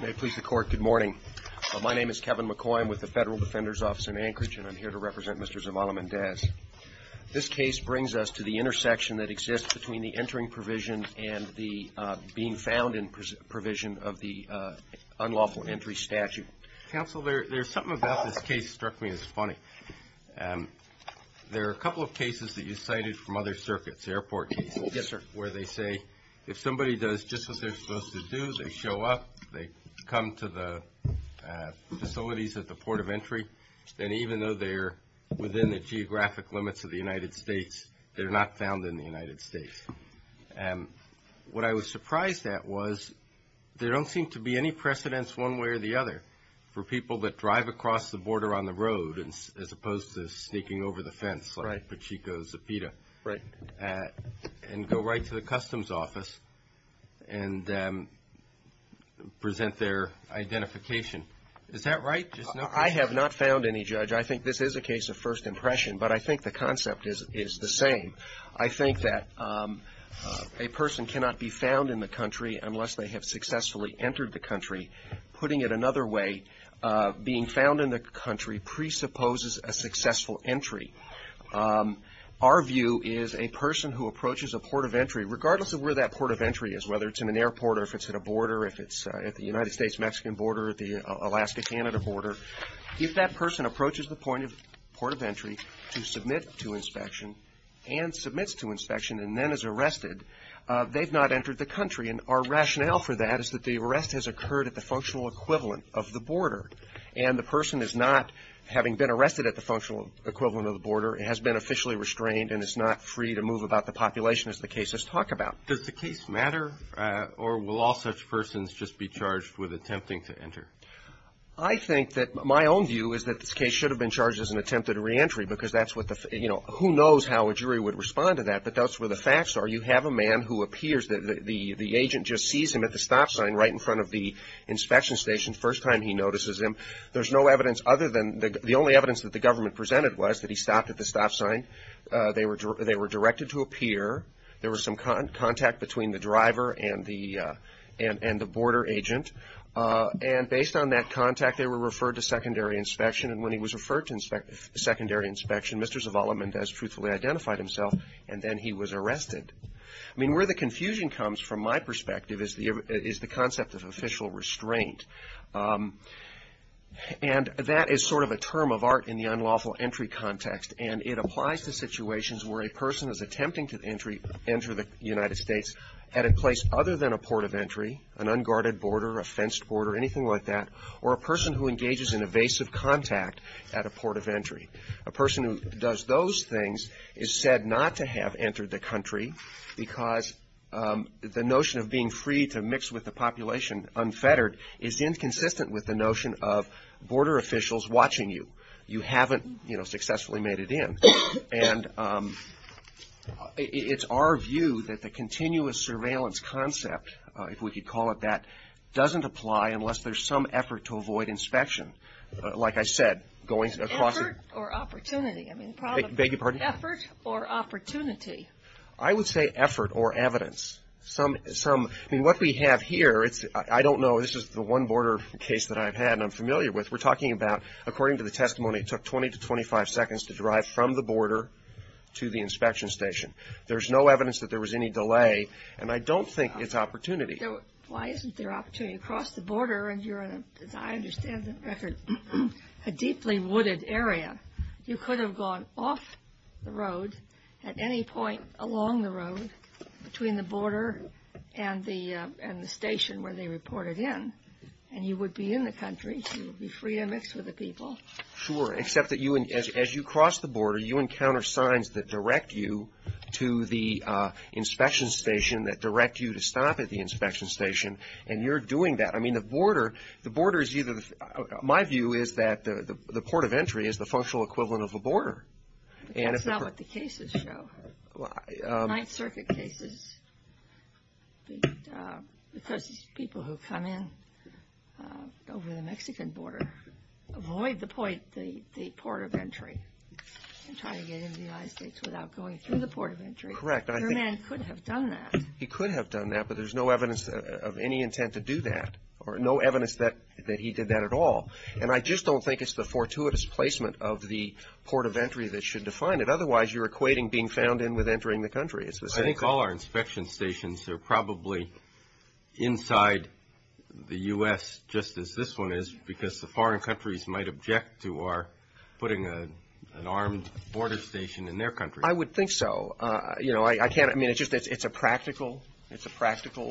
May it please the Court, good morning. My name is Kevin McCoy. I'm with the Federal Defender's Office in Anchorage, and I'm here to represent Mr. Zavala-Mendez. This case brings us to the intersection that exists between the entering provision and the being found provision of the unlawful entry statute. Counsel, there's something about this case struck me as funny. There are a couple of cases that you cited from other circuits, airport cases, where they say if somebody does just what they're supposed to do, they show up, they come to the facilities at the port of entry, then even though they're within the geographic limits of the United States, they're not found in the United States. What I was surprised at was there don't seem to be any precedents one way or the other for people that drive across the border on the road, as opposed to sneaking over the fence like Pachico Zapita, and go right to the customs office and present their identification. Is that right? I have not found any, Judge. I think this is a case of first impression, but I think the concept is the same. I think that a person cannot be found in the country unless they have successfully entered the country. Putting it another way, being found in the country presupposes a successful entry. Our view is a person who approaches a port of entry, regardless of where that port of entry is, whether it's in an airport or if it's at a border, if it's at the United States-Mexican border or the Alaska-Canada border, if that person approaches the point of port of entry to submit to inspection and submits to inspection and then is arrested, they've not entered the country. And our rationale for that is that the arrest has occurred at the functional equivalent of the border, and the person is not, having been arrested at the functional equivalent of the border, has been officially restrained and is not free to move about the population as the cases talk about. Does the case matter, or will all such persons just be charged with attempting to enter? I think that my own view is that this case should have been charged as an attempted reentry because that's what the, you know, who knows how a jury would respond to that, but that's where the facts are. You have a man who appears, the agent just sees him at the stop sign right in front of the inspection station, first time he notices him. There's no evidence other than the only evidence that the government presented was that he stopped at the stop sign. They were directed to appear. There was some contact between the driver and the border agent. And based on that contact, they were referred to secondary inspection. And when he was referred to secondary inspection, Mr. Zavala-Mendez truthfully identified himself, and then he was arrested. I mean, where the confusion comes from my perspective is the concept of official restraint. And that is sort of a term of art in the unlawful entry context, and it applies to situations where a person is attempting to enter the United States at a place other than a port of entry, an unguarded border, a fenced border, anything like that, or a person who engages in evasive contact at a port of entry. A person who does those things is said not to have entered the country, because the notion of being free to mix with the population unfettered is inconsistent with the notion of border officials watching you. You haven't successfully made it in. And it's our view that the continuous surveillance concept, if we could call it that, doesn't apply unless there's some effort to avoid inspection. Like I said, going across the border, a deeply wooded area, I don't think it's an opportunity. You could have gone off the road at any point along the road between the border and the station where they reported in, and you would be in the country. You would be free to mix with the people. Sure, except that as you cross the border, you encounter signs that direct you to the inspection station, that direct you to stop at the inspection station, and you're doing that. I mean, the border is either, my view is that the port of entry is the functional equivalent of a border. That's not what the cases show. Ninth Circuit cases, because it's people who come in over the Mexican border, avoid the point, the port of entry, and try to get into the United States without going through the port of entry. Correct. Your man could have done that. He could have done that, but there's no evidence of any intent to do that, or no evidence that he did that at all. And I just don't think it's the fortuitous placement of the port of entry that should define it. Otherwise, you're equating being found in with entering the country. I think all our inspection stations are probably inside the U.S., just as this one is, because the foreign countries might object to our putting an armed border station in their country. I would think so. I mean, it's a practical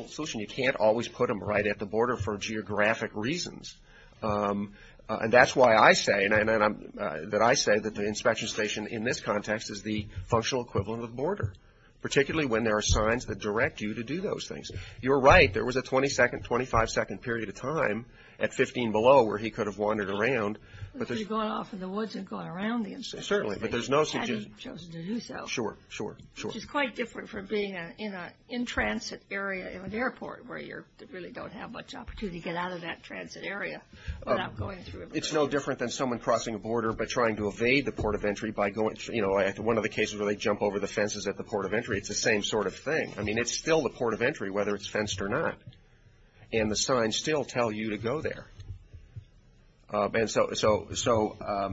solution. You can't always put them right at the border for geographic reasons. And that's why I say that the inspection station in this context is the functional equivalent of a border, particularly when there are signs that direct you to do those things. You're right. There was a 20-second, 25-second period of time at 15 below where he could have wandered around. He could have gone off in the woods and gone around the inspection station. Certainly. Had he chosen to do so. Sure, sure, sure. Which is quite different from being in a in-transit area in an airport where you really don't have much opportunity to get out of that transit area without going through a border. It's no different than someone crossing a border but trying to evade the port of entry by going through, you know, one of the cases where they jump over the fences at the port of entry. It's the same sort of thing. I mean, it's still the port of entry, whether it's fenced or not. And the signs still tell you to go there. And so, I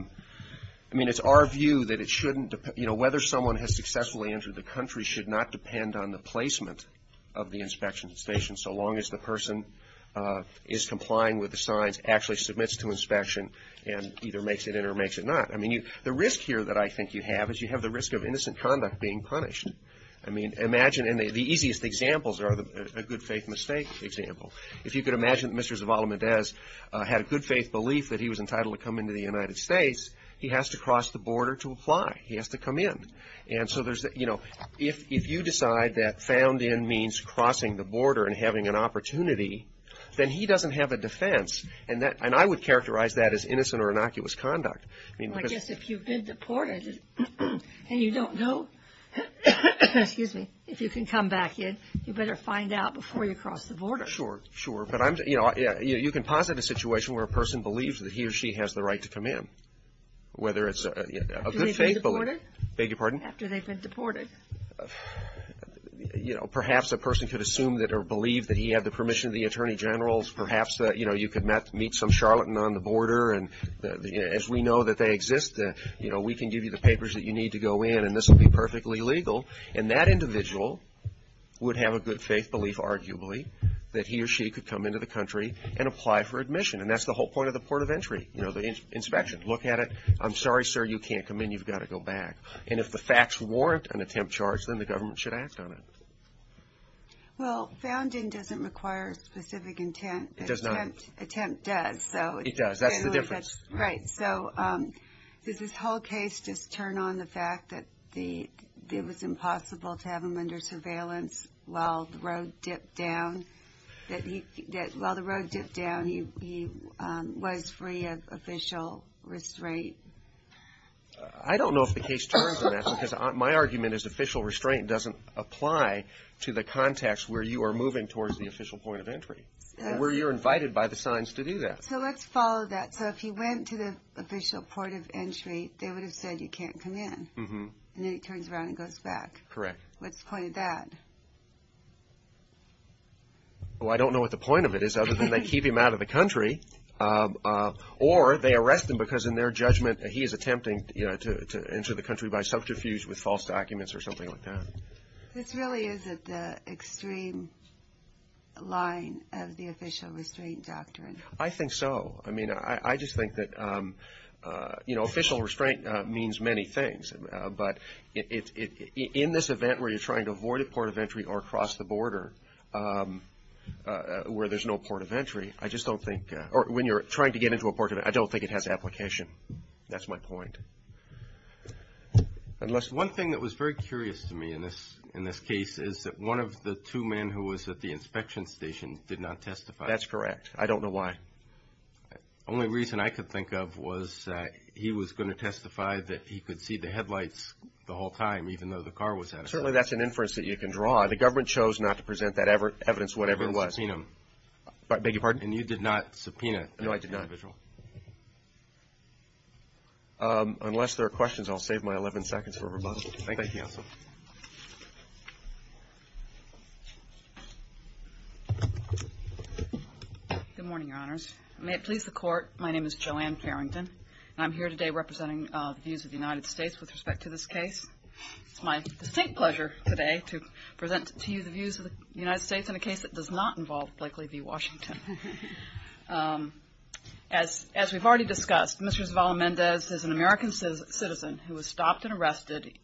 mean, it's our view that it shouldn't, you know, whether someone has successfully entered the country should not depend on the placement of the inspection station so long as the person is complying with the signs, actually submits to inspection, and either makes it in or makes it not. I mean, the risk here that I think you have is you have the risk of innocent conduct being punished. I mean, imagine, and the easiest examples are a good faith mistake example. If you could imagine that Mr. Zavala-Mendez had a good faith belief that he was entitled to come into the United States, he has to cross the border to apply. He has to come in. And so, there's, you know, if you decide that found in means crossing the border and having an opportunity, then he doesn't have a defense. And I would characterize that as innocent or innocuous conduct. Well, I guess if you've been deported and you don't know, excuse me, if you can come back in, you better find out before you cross the border. Sure, sure. But I'm, you know, you can posit a situation where a person believes that he or she has the right to come in, whether it's a good faith belief. After they've been deported? Beg your pardon? After they've been deported. You know, perhaps a person could assume that or believe that he had the permission of the Attorney General. Perhaps, you know, you could meet some charlatan on the border. And as we know that they exist, you know, we can give you the papers that you need to go in, and this will be perfectly legal. And that individual would have a good faith belief, arguably, that he or she could come into the country and apply for admission. And that's the whole point of the port of entry, you know, the inspection. Look at it. I'm sorry, sir, you can't come in. You've got to go back. And if the facts warrant an attempt charge, then the government should act on it. Well, founding doesn't require specific intent. It does not. Attempt does. It does. That's the difference. Right. So does this whole case just turn on the fact that it was impossible to have him under surveillance while the road dipped down? That while the road dipped down, he was free of official restraint? I don't know if the case turns on that, because my argument is official restraint doesn't apply to the context where you are moving towards the official point of entry, where you're invited by the signs to do that. So let's follow that. So if he went to the official port of entry, they would have said you can't come in. Mm-hmm. And then he turns around and goes back. Correct. What's the point of that? Well, I don't know what the point of it is other than they keep him out of the country or they arrest him because in their judgment, he is attempting to enter the country by subterfuge with false documents or something like that. This really isn't the extreme line of the official restraint doctrine. I think so. I mean, I just think that, you know, official restraint means many things, but in this event where you're trying to avoid a port of entry or cross the border where there's no port of entry, I just don't think, or when you're trying to get into a port of entry, I don't think it has application. That's my point. One thing that was very curious to me in this case is that one of the two men who was at the inspection station did not testify. That's correct. I don't know why. The only reason I could think of was that he was going to testify that he could see the headlights the whole time even though the car was out of sight. Certainly, that's an inference that you can draw. The government chose not to present that evidence whatever it was. You didn't subpoena him. I beg your pardon? And you did not subpoena the individual? No, I did not. Unless there are questions, I'll save my 11 seconds for rebuttal. Thank you. Good morning, Your Honors. May it please the Court, my name is Joanne Farrington, and I'm here today representing the views of the United States with respect to this case. It's my distinct pleasure today to present to you the views of the United States in a case that does not involve Blakely v. Washington. As we've already discussed, Mr. Zavala-Mendez is an American citizen who was stopped and arrested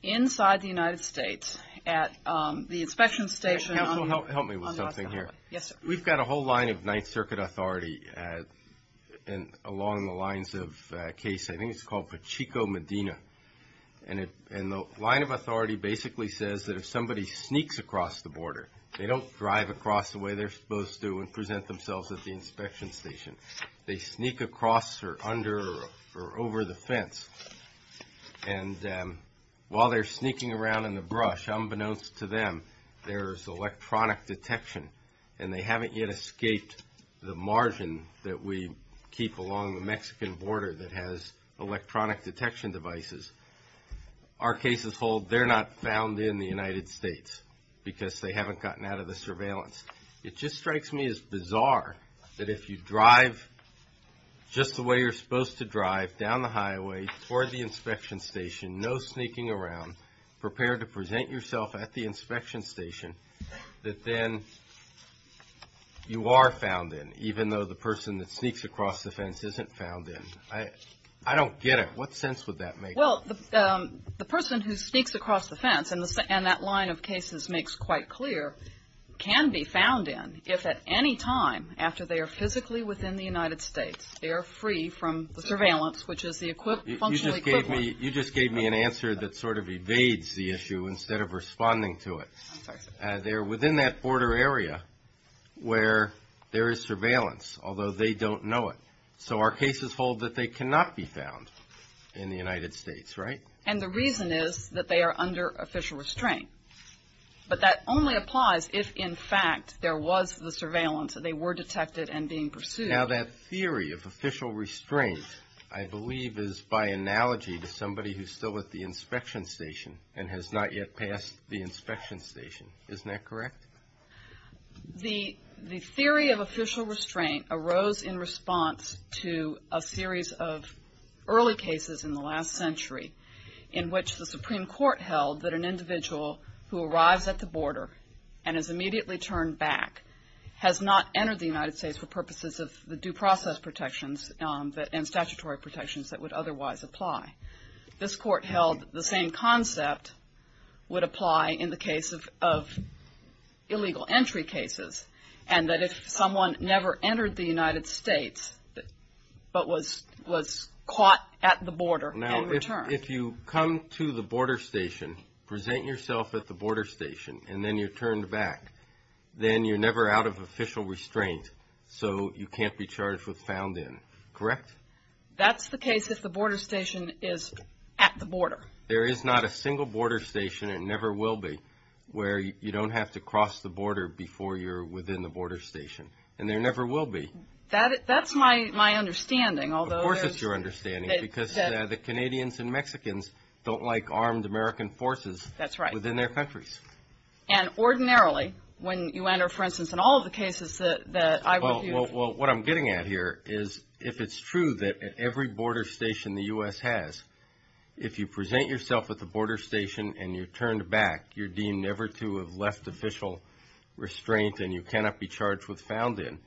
inside the United States at the inspection station on the Oscar Highway. Counsel, help me with something here. Yes, sir. We've got a whole line of Ninth Circuit authority along the lines of a case, I think it's called Pachico-Medina, and the line of authority basically says that if somebody sneaks across the border, they don't drive across the way they're supposed to and present themselves at the inspection station. They sneak across or under or over the fence. And while they're sneaking around in the brush, unbeknownst to them, there's electronic detection, and they haven't yet escaped the margin that we keep along the Mexican border that has electronic detection devices. Our cases hold they're not found in the United States because they haven't gotten out of the surveillance. It just strikes me as bizarre that if you drive just the way you're supposed to drive down the highway toward the inspection station, no sneaking around, prepare to present yourself at the inspection station, that then you are found in, even though the person that sneaks across the fence isn't found in. I don't get it. What sense would that make? Well, the person who sneaks across the fence, and that line of cases makes quite clear, can be found in if at any time after they are physically within the United States, they are free from the surveillance, which is the functional equivalent. You just gave me an answer that sort of evades the issue instead of responding to it. They're within that border area where there is surveillance, although they don't know it. So our cases hold that they cannot be found in the United States, right? And the reason is that they are under official restraint. But that only applies if, in fact, there was the surveillance and they were detected and being pursued. Now that theory of official restraint, I believe, is by analogy to somebody who is still at the inspection station and has not yet passed the inspection station. Isn't that correct? The theory of official restraint arose in response to a series of early cases in the last century in which the Supreme Court held that an individual who arrives at the border and is immediately turned back has not entered the United States for purposes of the due process protections and statutory protections that would otherwise apply. This court held the same concept would apply in the case of illegal entry cases and that if someone never entered the United States but was caught at the border and returned. If you come to the border station, present yourself at the border station, and then you're turned back, then you're never out of official restraint. So you can't be charged with found in. Correct? That's the case if the border station is at the border. There is not a single border station, and never will be, where you don't have to cross the border before you're within the border station. And there never will be. That's my understanding. Of course it's your understanding, because the Canadians and Mexicans don't like armed American forces within their countries. And ordinarily, when you enter, for instance, in all of the cases that I review... Well, what I'm getting at here is if it's true that at every border station the U.S. has, if you present yourself at the border station and you're turned back, you're deemed never to have left official restraint and you cannot be charged with found in,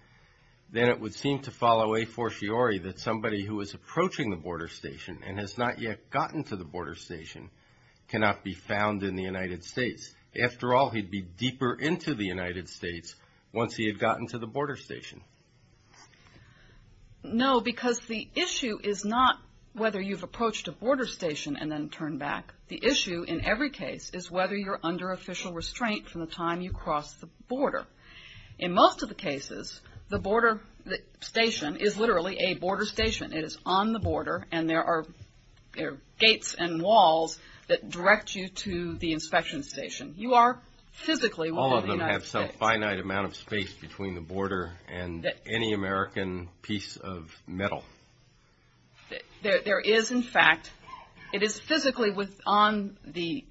then it would seem to follow a fortiori that somebody who is approaching the border station and has not yet gotten to the border station cannot be found in the United States. After all, he'd be deeper into the United States once he had gotten to the border station. No, because the issue is not whether you've approached a border station and then turned back. The issue in every case is whether you're under official restraint from the time you are in the United States. The border station is literally a border station. It is on the border and there are gates and walls that direct you to the inspection station. You are physically within the United States. All of them have some finite amount of space between the border and any American piece of metal. There is, in fact, it is physically within the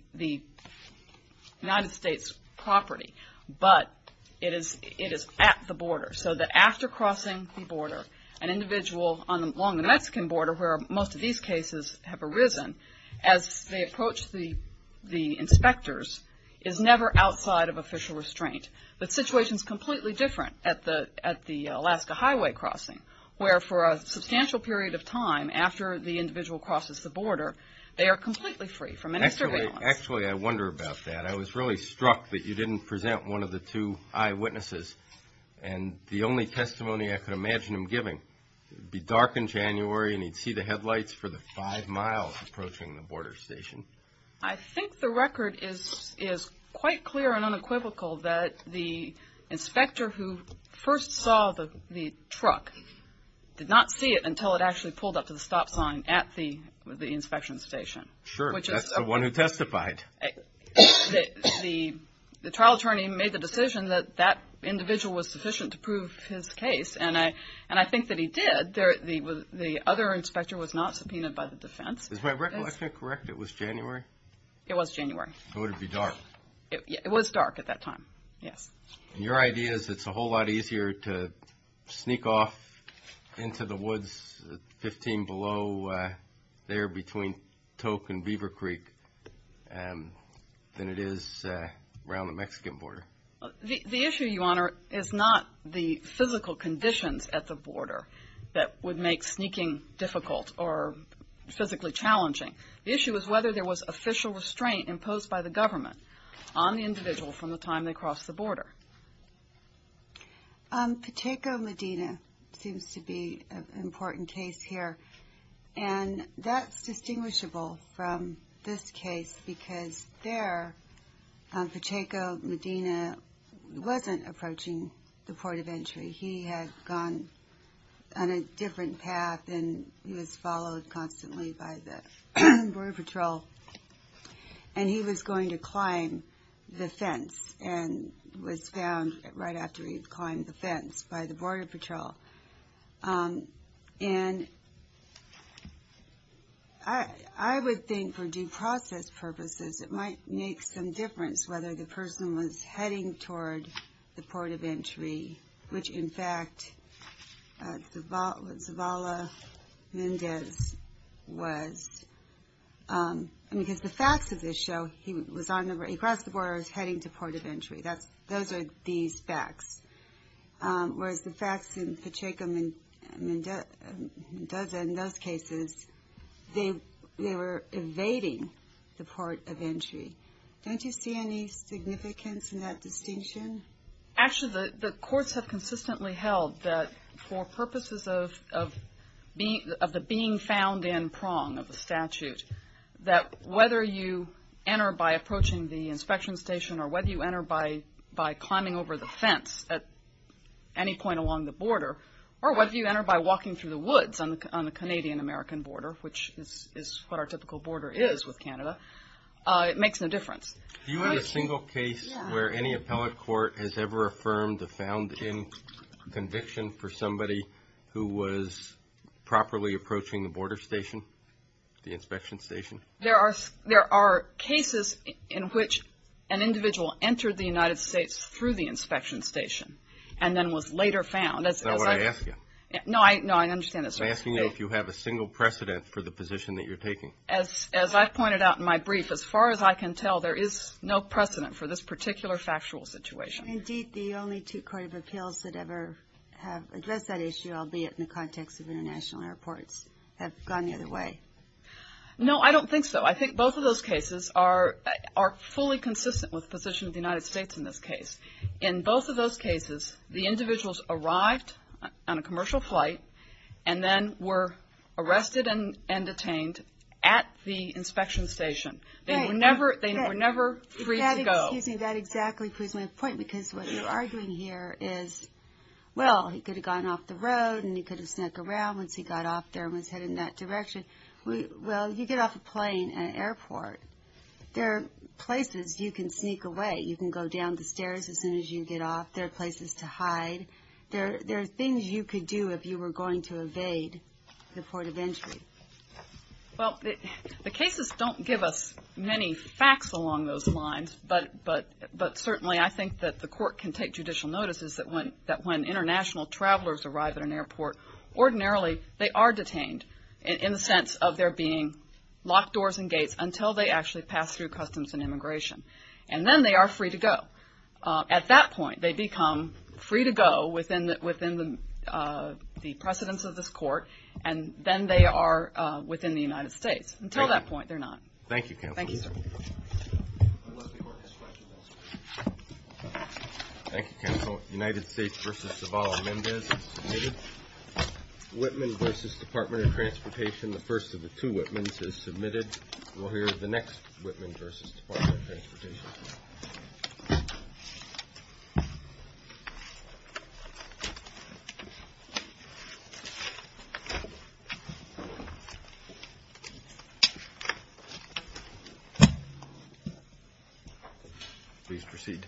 United States' property, but it is at the border. So that after crossing the border, an individual along the Mexican border where most of these cases have arisen, as they approach the inspectors, is never outside of official restraint. The situation is completely different at the Alaska Highway crossing, where for a substantial period of time after the individual crosses the border, they are completely free from any surveillance. Actually, I wonder about that. I was really struck that you didn't present one of the two eyewitnesses and the only testimony I could imagine him giving. It would be dark in January and he'd see the headlights for the five miles approaching the border station. I think the record is quite clear and unequivocal that the inspector who first saw the truck did not see it until it actually pulled up to the stop sign at the inspection station. Sure, that's the one who testified. The trial attorney made the decision that that individual was sufficient to prove his case, and I think that he did. The other inspector was not subpoenaed by the defense. Is my recollection correct? It was January? It was January. It would be dark. It was dark at that time, yes. Your idea is it's a whole lot easier to sneak off into the woods, 15 below, there between Tok and Beaver Creek than it is around the Mexican border. The issue, Your Honor, is not the physical conditions at the border that would make sneaking difficult or physically challenging. The issue is whether there was official restraint imposed by the government on the individual from the time they crossed the border. Pacheco Medina seems to be an important case here, and that's distinguishable from this case because there, Pacheco Medina wasn't approaching the port of entry. He had gone on a different path, and he was followed constantly by the Border Patrol, and he was going to be found right after he climbed the fence by the Border Patrol, and I would think for due process purposes, it might make some difference whether the person was heading toward the port of entry, which in fact Zavala Mendez was, because the facts of this show, he crossed the border, he was heading toward the port of entry. Those are these facts, whereas the facts in Pacheco Mendeza, in those cases, they were evading the port of entry. Don't you see any significance in that distinction? Actually, the courts have consistently held that for purposes of the being found in prong of the statute, that whether you enter by approaching the inspection station, or whether you enter by climbing over the fence at any point along the border, or whether you enter by walking through the woods on the Canadian-American border, which is what our typical border is with Canada, it makes no difference. Do you have a single case where any appellate court has ever affirmed a found-in conviction for somebody who was properly approaching the border station, the inspection station? There are cases in which an individual entered the United States through the inspection station, and then was later found. That's not what I asked you. No, I understand this. I'm asking you if you have a single precedent for the position that you're taking. As I've pointed out in my brief, as far as I can tell, there is no precedent for this particular factual situation. Indeed, the only two court of appeals that ever have addressed that issue, albeit in the context of international airports, have gone the other way. No, I don't think so. I think both of those cases are fully consistent with the position of the United States in this case. In both of those cases, the individuals arrived on a commercial flight, and then were arrested They were never free to go. That exactly proves my point, because what you're arguing here is, well, he could have gone off the road, and he could have snuck around once he got off there and was headed in that direction. Well, you get off a plane at an airport. There are places you can sneak away. You can go down the stairs as soon as you get off. There are places to hide. There are things you could do if you were going to evade the port of entry. Well, the cases don't give us many facts along those lines, but certainly I think that the court can take judicial notice that when international travelers arrive at an airport, ordinarily they are detained in the sense of their being locked doors and gates until they actually pass through customs and immigration. And then they are free to go. At that point, they become free to go within the precedence of this court, and then they are within the United States. Until that point, they're not. Thank you, Counsel. Thank you, sir. Thank you, Counsel. United States v. Zavala-Mendez is submitted. Whitman v. Department of Transportation, the first of the two Whitmans, is submitted. We'll hear the next Whitman v. Department of Transportation. Please proceed.